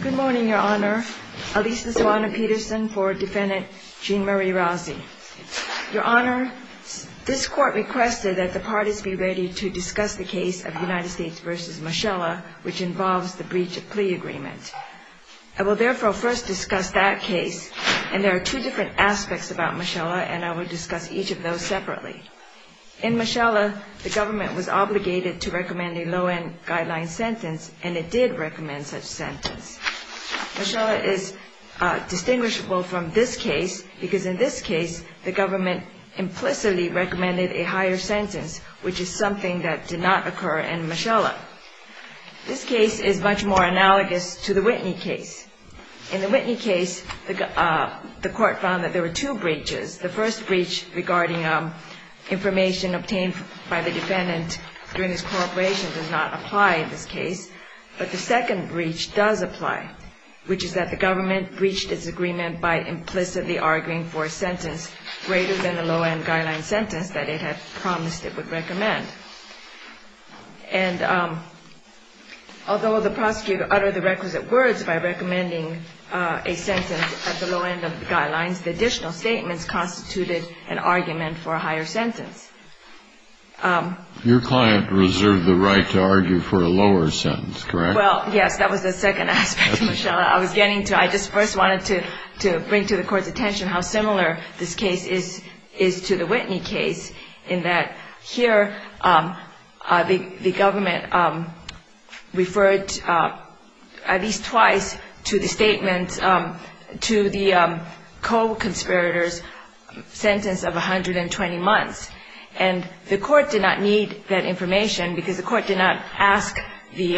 Good morning, Your Honor. Alisa Sawano-Peterson for Defendant Jeanne Marie Rowzee. Your Honor, this Court requested that the parties be ready to discuss the case of United States v. Mochella, which involves the breach of plea agreement. I will therefore first discuss that case, and there are two different aspects about Mochella, and I will discuss each of those separately. In Mochella, the government was obligated to recommend a low-end guideline sentence, and it did recommend such sentence. Mochella is distinguishable from this case, because in this case, the government implicitly recommended a higher sentence, which is something that did not occur in Mochella. This case is much more analogous to the Whitney case. In the Whitney case, the Court found that there were two breaches. The first breach regarding information obtained by the defendant during his cooperation does not apply in this case, but the second breach does apply, which is that the government breached its agreement by implicitly arguing for a sentence greater than the low-end guideline sentence that it had promised it would recommend. And although the prosecutor uttered the requisite words by recommending a sentence at the low-end of the guidelines, the additional statements constituted an argument for a higher sentence. Your client reserved the right to argue for a lower sentence, correct? Well, yes, that was the second aspect of Mochella. I was getting to it. I just first wanted to bring to the Court's attention how similar this case is to the Whitney case, in that here the government referred at least twice to the statement, to the co-conspirators' sentence of 120 months. And the Court did not need that information because the Court did not ask the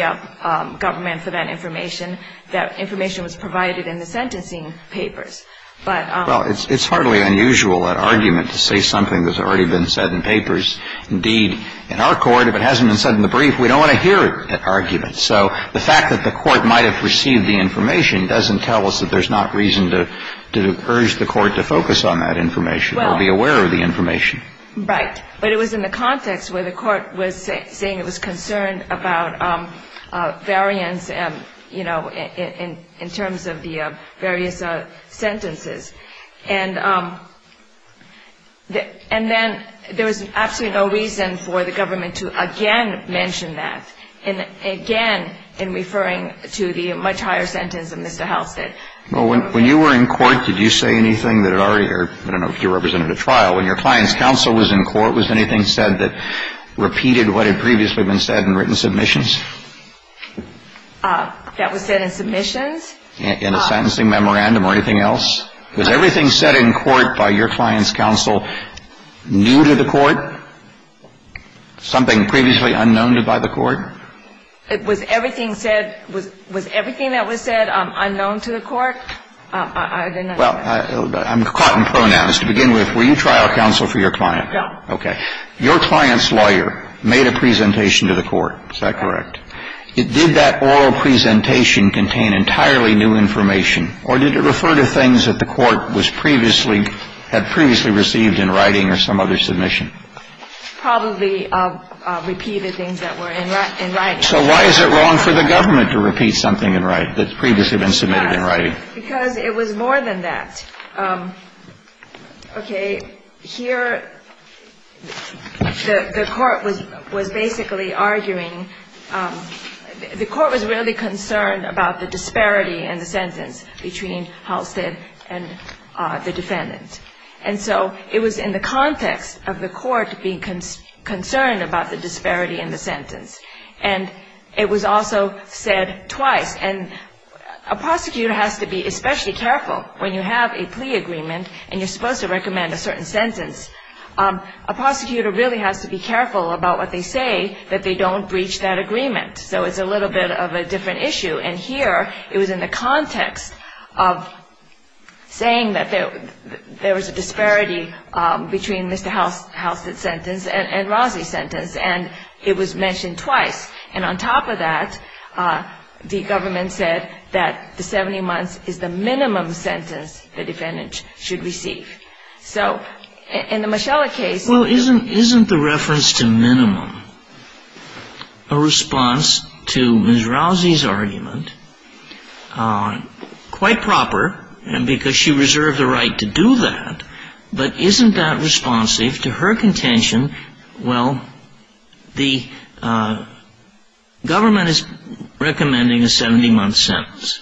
government for that information. That information was provided in the sentencing papers. Well, it's hardly unusual, that argument, to say something that's already been said in papers. Indeed, in our Court, if it hasn't been said in the brief, we don't want to hear that argument. So the fact that the Court might have received the information doesn't tell us that there's not reason to urge the Court to focus on that information or be aware of the information. Right. But it was in the context where the Court was saying it was concerned about variance, you know, in terms of the various sentences. And then there was absolutely no reason for the government to again mention that, and again in referring to the much higher sentence that Mr. Howell said. Well, when you were in court, did you say anything that had already occurred? I don't know if you represented a trial. When your client's counsel was in court, was anything said that repeated what had previously been said in written submissions? That was said in submissions? In a sentencing memorandum or anything else? Was everything said in court by your client's counsel new to the Court, something previously unknown by the Court? Was everything said – was everything that was said unknown to the Court? Well, I'm caught in pronouns. To begin with, were you trial counsel for your client? No. Okay. Your client's lawyer made a presentation to the Court. Is that correct? Did that oral presentation contain entirely new information, or did it refer to things that the Court was previously – had previously received in writing or some other submission? Probably repeated things that were in writing. So why is it wrong for the government to repeat something in writing that's previously been submitted in writing? Because it was more than that. Okay. Here, the Court was basically arguing – the Court was really concerned about the disparity in the sentence between Halstead and the defendant. And so it was in the context of the Court being concerned about the disparity in the sentence. And it was also said twice. And a prosecutor has to be especially careful when you have a plea agreement and you're supposed to recommend a certain sentence. A prosecutor really has to be careful about what they say that they don't breach that agreement. So it's a little bit of a different issue. And here, it was in the context of saying that there was a disparity between Mr. Halstead's sentence and Rozzi's sentence. And it was mentioned twice. And on top of that, the government said that the 70 months is the minimum sentence the defendant should receive. So in the Moschella case – Well, isn't the reference to minimum a response to Ms. Rozzi's argument? Quite proper, because she reserved the right to do that. But isn't that responsive to her contention, well, the government is recommending a 70-month sentence.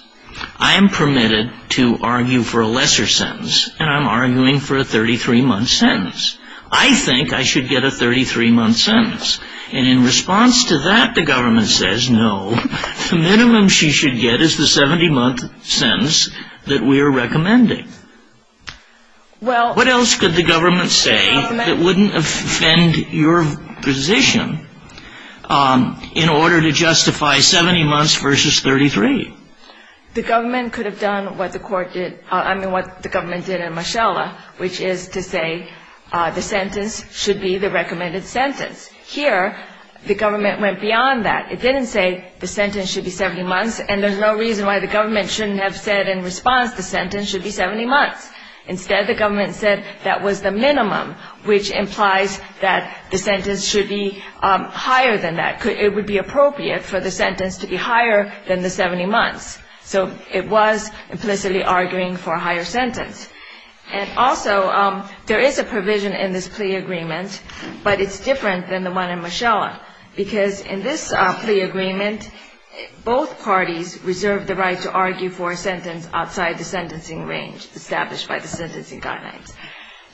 I am permitted to argue for a lesser sentence, and I'm arguing for a 33-month sentence. I think I should get a 33-month sentence. And in response to that, the government says, no, the minimum she should get is the 70-month sentence that we are recommending. What else could the government say that wouldn't offend your position in order to justify 70 months versus 33? The government could have done what the court did – I mean, what the government did in Moschella, which is to say the sentence should be the recommended sentence. Here, the government went beyond that. It didn't say the sentence should be 70 months, and there's no reason why the government shouldn't have said in response the sentence should be 70 months. Instead, the government said that was the minimum, which implies that the sentence should be higher than that. It would be appropriate for the sentence to be higher than the 70 months. So it was implicitly arguing for a higher sentence. And also, there is a provision in this plea agreement, but it's different than the one in Moschella, because in this plea agreement, both parties reserve the right to argue for a sentence outside the sentencing range established by the sentencing guidelines.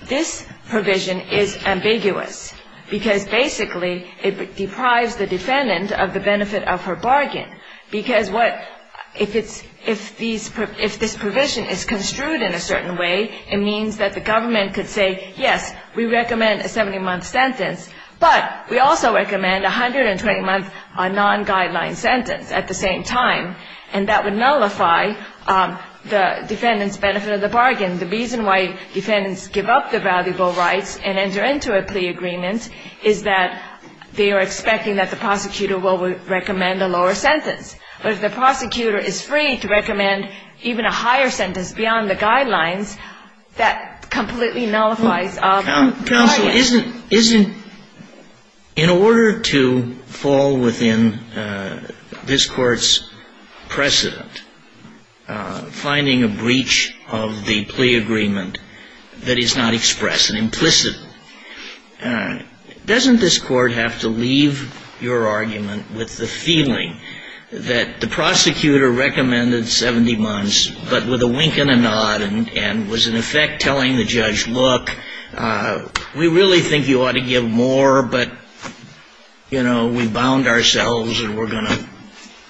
This provision is ambiguous, because basically it deprives the defendant of the benefit of her bargain, because if this provision is construed in a certain way, it means that the government could say, yes, we recommend a 70-month sentence, but we also recommend a 120-month non-guideline sentence at the same time, and that would nullify the defendant's benefit of the bargain. The reason why defendants give up the valuable rights and enter into a plea agreement is that they are expecting that the prosecutor will recommend a lower sentence. But if the prosecutor is free to recommend even a higher sentence beyond the guidelines, that completely nullifies the bargain. Counsel, isn't, in order to fall within this Court's precedent, finding a breach of the plea agreement that is not expressed and implicit, doesn't this Court have to leave your argument with the feeling that the prosecutor recommended 70 months, but with a wink and a nod, and was, in effect, telling the judge, look, we really think you ought to give more, but, you know, we bound ourselves and we're going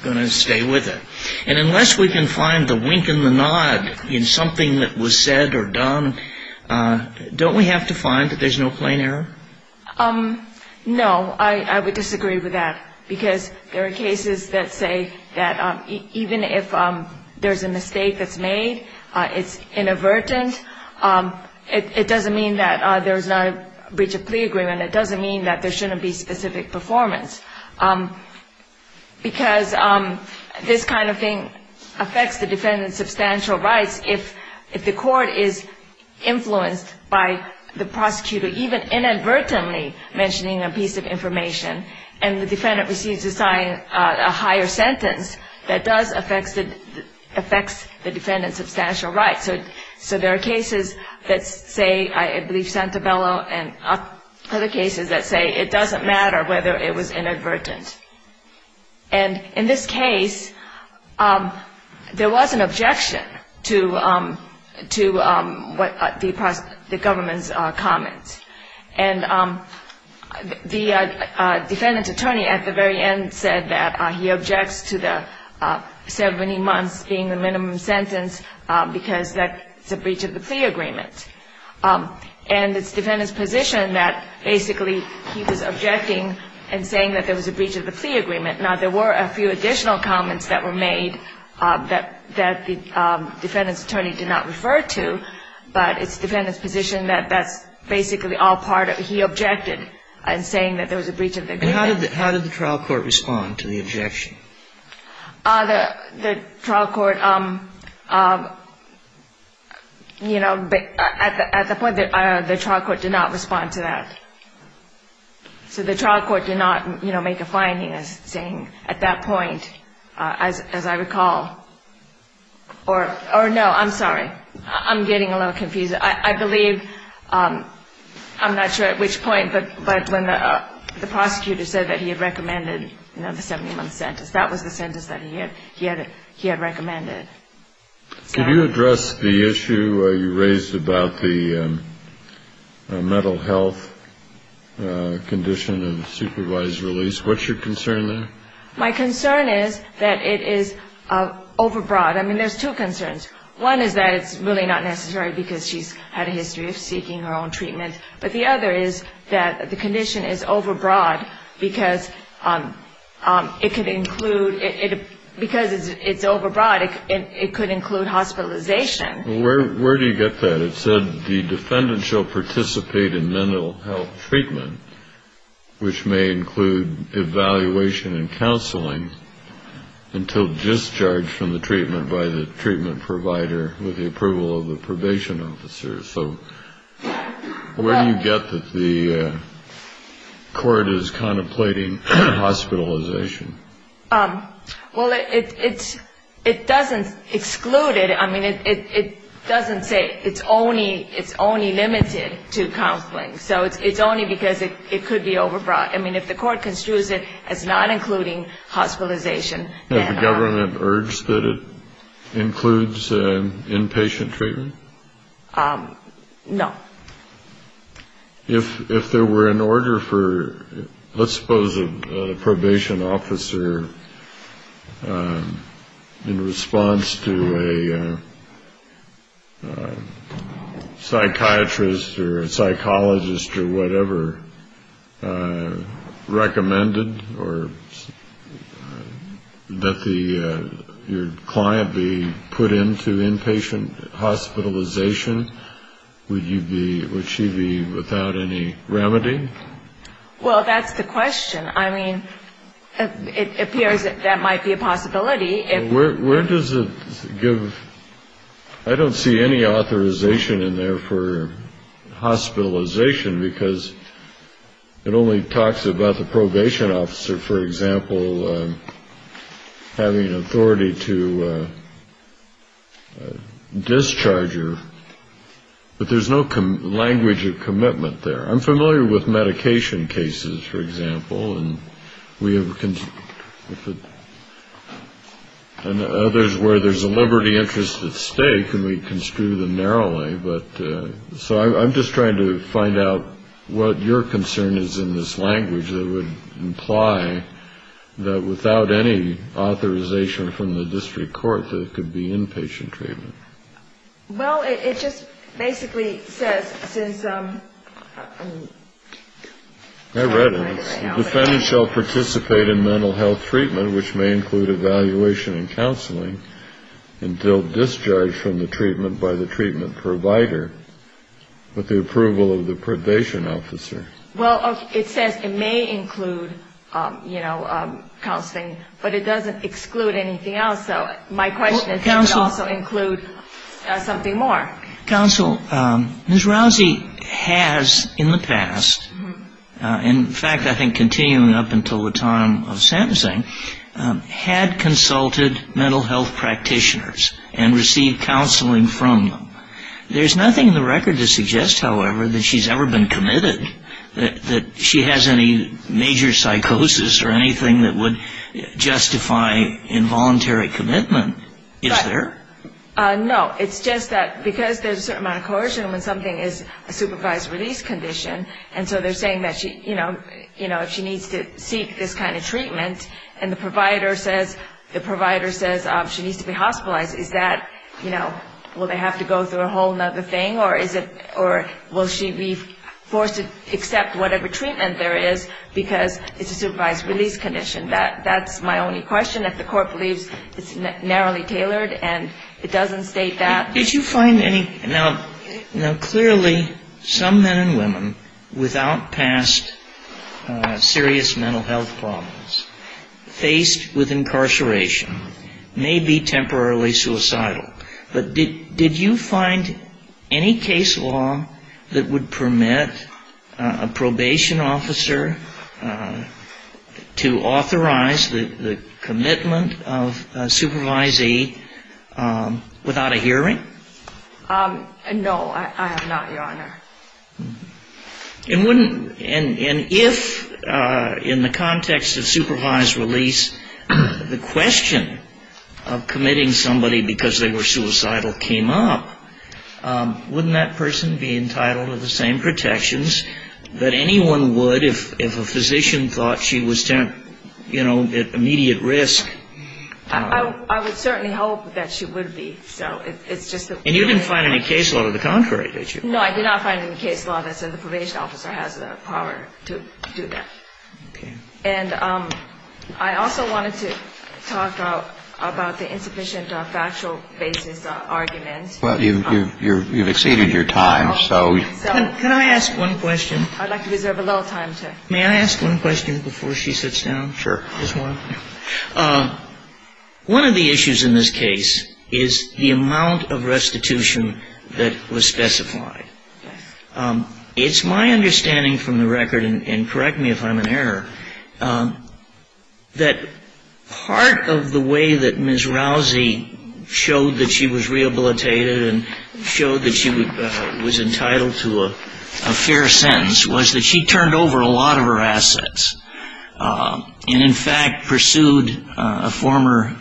to stay with it? And unless we can find the wink and the nod in something that was said or done, don't we have to find that there's no plain error? No, I would disagree with that because there are cases that say that even if there's a mistake that's made, it's inadvertent, it doesn't mean that there's not a breach of plea agreement. It doesn't mean that there shouldn't be specific performance because this kind of thing affects the defendant's substantial rights. If the Court is influenced by the prosecutor even inadvertently mentioning a piece of information and the defendant receives a higher sentence, that does affect the defendant's substantial rights. So there are cases that say, I believe, Santabello and other cases that say it doesn't matter whether it was inadvertent. And in this case, there was an objection to what the government's comment. And the defendant's attorney at the very end said that he objects to the 70 months being the minimum sentence because that's a breach of the plea agreement. And it's the defendant's position that basically he was objecting and saying that there was a breach of the plea agreement. Now, there were a few additional comments that were made that the defendant's attorney did not refer to, but it's the defendant's position that that's basically all part of it. He objected in saying that there was a breach of the agreement. And how did the trial court respond to the objection? The trial court, you know, at the point, the trial court did not respond to that. So the trial court did not, you know, make a finding as saying at that point, as I recall, or no, I'm sorry. I'm getting a little confused. I believe, I'm not sure at which point, but when the prosecutor said that he had recommended, you know, the 70-month sentence, that was the sentence that he had recommended. Could you address the issue you raised about the mental health condition and supervised release? What's your concern there? My concern is that it is overbroad. I mean, there's two concerns. One is that it's really not necessary because she's had a history of seeking her own treatment. But the other is that the condition is overbroad because it could include, because it's overbroad, it could include hospitalization. Where do you get that? It said the defendant shall participate in mental health treatment, which may include evaluation and counseling, until discharged from the treatment by the treatment provider with the approval of the probation officer. So where do you get that the court is contemplating hospitalization? Well, it doesn't exclude it. I mean, it doesn't say it's only limited to counseling. So it's only because it could be overbroad. I mean, if the court construes it as not including hospitalization. Has the government urged that it includes inpatient treatment? No. If there were an order for, let's suppose, a probation officer in response to a psychiatrist or a psychologist or whatever recommended or that your client be put into inpatient hospitalization, would she be without any remedy? Well, that's the question. I mean, it appears that that might be a possibility. Where does it give? I don't see any authorization in there for hospitalization, because it only talks about the probation officer, for example, having authority to discharge her. But there's no language of commitment there. I'm familiar with medication cases, for example. And we have others where there's a liberty interest at stake, and we construe them narrowly. But so I'm just trying to find out what your concern is in this language that would imply that without any authorization from the district court that it could be inpatient treatment. Well, it just basically says since. I read it. The defendant shall participate in mental health treatment, which may include evaluation and counseling, until discharged from the treatment by the treatment provider with the approval of the probation officer. Well, it says it may include, you know, counseling, but it doesn't exclude anything else. So my question is, does it also include something more? Counsel, Ms. Rousey has in the past, in fact, I think continuing up until the time of sentencing, had consulted mental health practitioners and received counseling from them. There's nothing in the record to suggest, however, that she's ever been committed, that she has any major psychosis or anything that would justify involuntary commitment, is there? No. It's just that because there's a certain amount of coercion when something is a supervised release condition, and so they're saying that, you know, if she needs to seek this kind of treatment and the provider says she needs to be hospitalized, is that, you know, will they have to go through a whole other thing, or will she be forced to accept whatever treatment there is because it's a supervised release condition? That's my only question. If the court believes it's narrowly tailored and it doesn't state that. Did you find any – now, clearly, some men and women without past serious mental health problems faced with incarceration may be temporarily suicidal, but did you find any case law that would permit a probation officer to authorize the commitment of a supervisee without a hearing? No, I have not, Your Honor. And if, in the context of supervised release, the question of committing somebody because they were suicidal came up, wouldn't that person be entitled to the same protections that anyone would if a physician thought she was, you know, at immediate risk? I would certainly hope that she would be. And you didn't find any case law to the contrary, did you? No, I did not find any case law that said the probation officer has the power to do that. Okay. And I also wanted to talk about the insufficient factual basis arguments. Well, you've exceeded your time, so. Can I ask one question? I'd like to reserve a little time to. May I ask one question before she sits down? Sure. Just one. One of the issues in this case is the amount of restitution that was specified. It's my understanding from the record, and correct me if I'm in error, that part of the way that Ms. Rousey showed that she was rehabilitated and showed that she was entitled to a fair sentence was that she turned over a lot of her assets and in fact pursued a former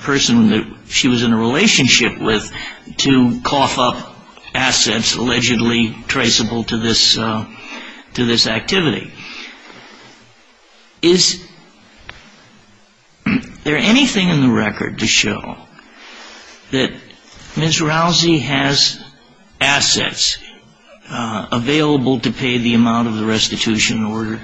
person that she was in a relationship with to cough up assets allegedly traceable to this activity. Is there anything in the record to show that Ms. Rousey has assets available to pay the amount of the restitution order?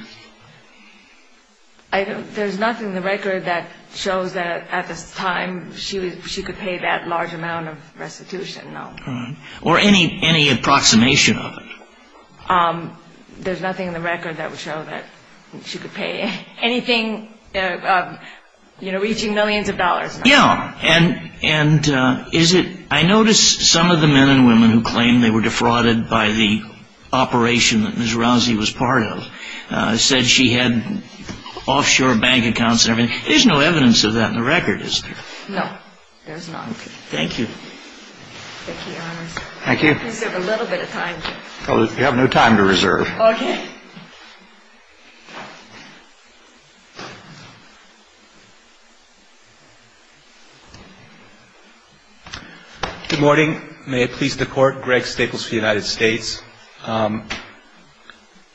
There's nothing in the record that shows that at this time she could pay that large amount of restitution, no. All right. Or any approximation of it? There's nothing in the record that would show that she could pay anything, you know, reaching millions of dollars. Yeah. And is it, I notice some of the men and women who claim they were defrauded by the operation that Ms. Rousey was part of said she had offshore bank accounts and everything. There's no evidence of that in the record, is there? No, there's not. Okay. Thank you. Thank you, Your Honor. Thank you. Please have a little bit of time. You have no time to reserve. Okay. Good morning. May it please the Court. Greg Staples for the United States. I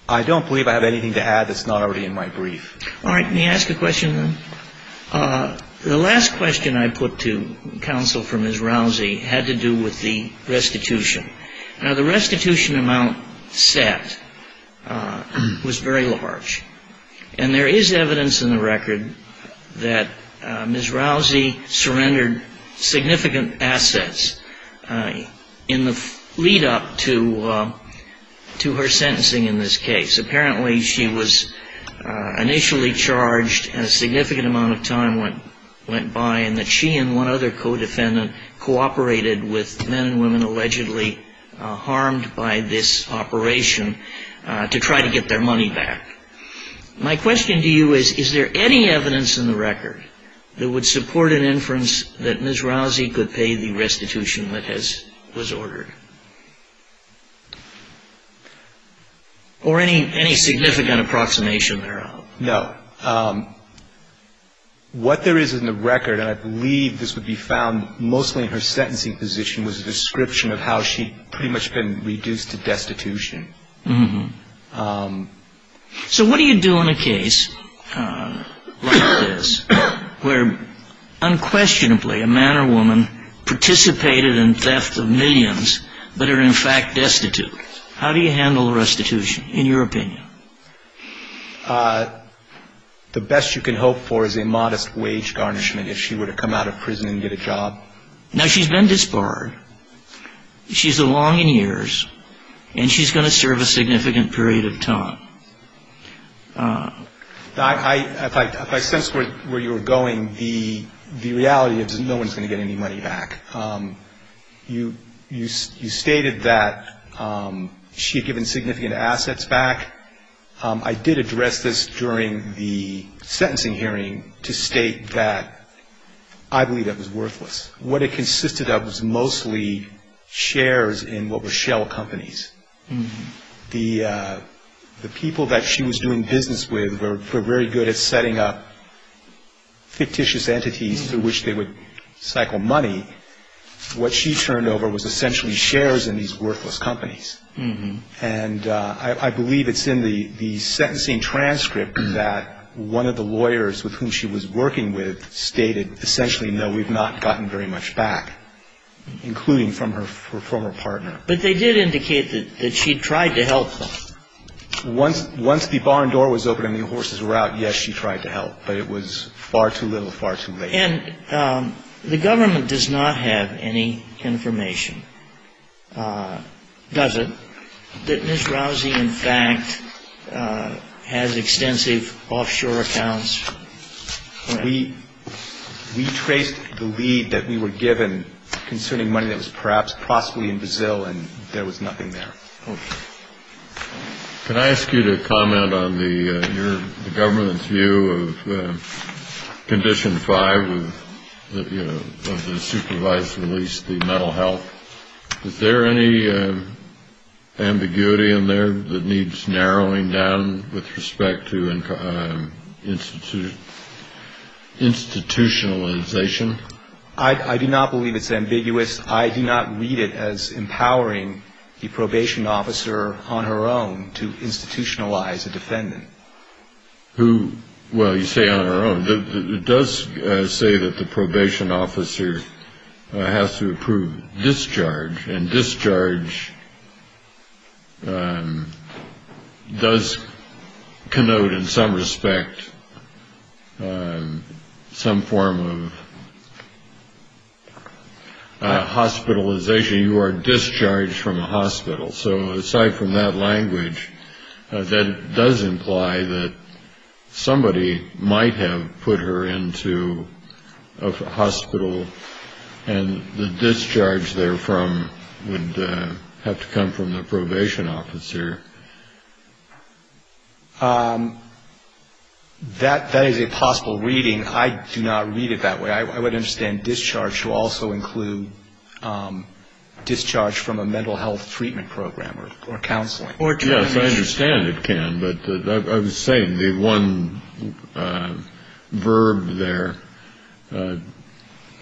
don't believe I have anything to add that's not already in my brief. All right. May I ask a question, then? The last question I put to counsel for Ms. Rousey had to do with the restitution. Now, the restitution amount set was very large. And there is evidence in the record that Ms. Rousey surrendered significant assets in the lead-up to her sentencing in this case. Apparently, she was initially charged, and a significant amount of time went by, and that she and one other co-defendant cooperated with men and women allegedly harmed by this operation to try to get their money back. My question to you is, is there any evidence in the record that would support an inference that Ms. Rousey could pay the restitution that was ordered? Or any significant approximation thereof? No. What there is in the record, and I believe this would be found mostly in her sentencing position, was a description of how she had pretty much been reduced to destitution. So what do you do in a case like this where unquestionably a man or woman participated in theft of millions but are in fact destitute? How do you handle restitution, in your opinion? The best you can hope for is a modest wage garnishment if she were to come out of prison and get a job. Now, she's been disbarred. She's a long in years, and she's going to serve a significant period of time. If I sense where you're going, the reality is no one's going to get any money back. You stated that she had given significant assets back. I did address this during the sentencing hearing to state that I believe that was worthless. What it consisted of was mostly shares in what were shell companies. The people that she was doing business with were very good at setting up fictitious entities through which they would cycle money. What she turned over was essentially shares in these worthless companies. And I believe it's in the sentencing transcript that one of the lawyers with whom she was working with stated, essentially, no, we've not gotten very much back, including from her former partner. But they did indicate that she tried to help them. Once the barn door was open and the horses were out, yes, she tried to help. But it was far too little, far too late. And the government does not have any information, does it, that Ms. Rousey, in fact, has extensive offshore accounts? We traced the lead that we were given concerning money that was perhaps possibly in Brazil, and there was nothing there. Okay. Can I ask you to comment on the government's view of condition five of the supervised release, the mental health? Is there any ambiguity in there that needs narrowing down with respect to institutionalization? I do not believe it's ambiguous. I do not read it as empowering the probation officer on her own to institutionalize a defendant. Well, you say on her own. It does say that the probation officer has to approve discharge, and discharge does connote in some respect some form of hospitalization. You are discharged from a hospital. So aside from that language, that does imply that somebody might have put her into a hospital and the discharge therefrom would have to come from the probation officer. That is a possible reading. I do not read it that way. I would understand discharge to also include discharge from a mental health treatment program or counseling. Yes, I understand it can, but I was saying the one verb there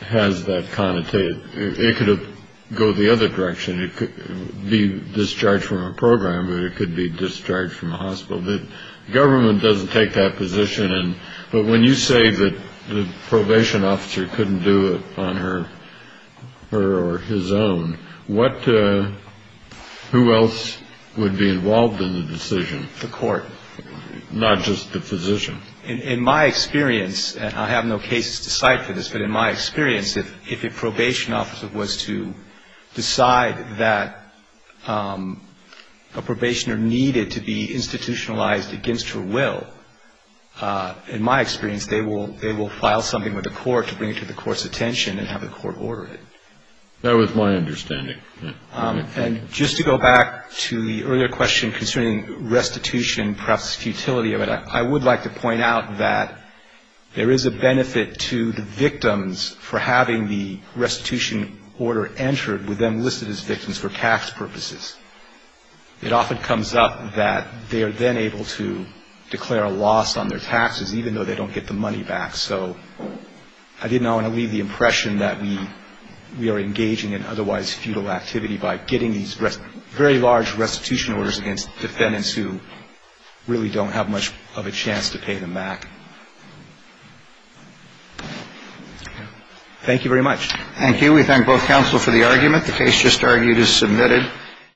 has that connotation. It could go the other direction. It could be discharge from a program, but it could be discharge from a hospital. The government doesn't take that position. But when you say that the probation officer couldn't do it on her or his own, who else would be involved in the decision? The court. Not just the physician. In my experience, and I have no case to cite for this, but in my experience, if a probation officer was to decide that a probationer needed to be institutionalized against her will, in my experience, they will file something with the court to bring it to the court's attention and have the court order it. That was my understanding. And just to go back to the earlier question concerning restitution, perhaps futility of it, I would like to point out that there is a benefit to the victims for having the restitution order entered with them listed as victims for tax purposes. It often comes up that they are then able to declare a loss on their taxes, even though they don't get the money back. So I didn't want to leave the impression that we are engaging in otherwise futile activity by getting these very large restitution orders against defendants who really don't have much of a chance to pay them back. Thank you very much. Thank you. We thank both counsel for the argument. The case just argued is submitted.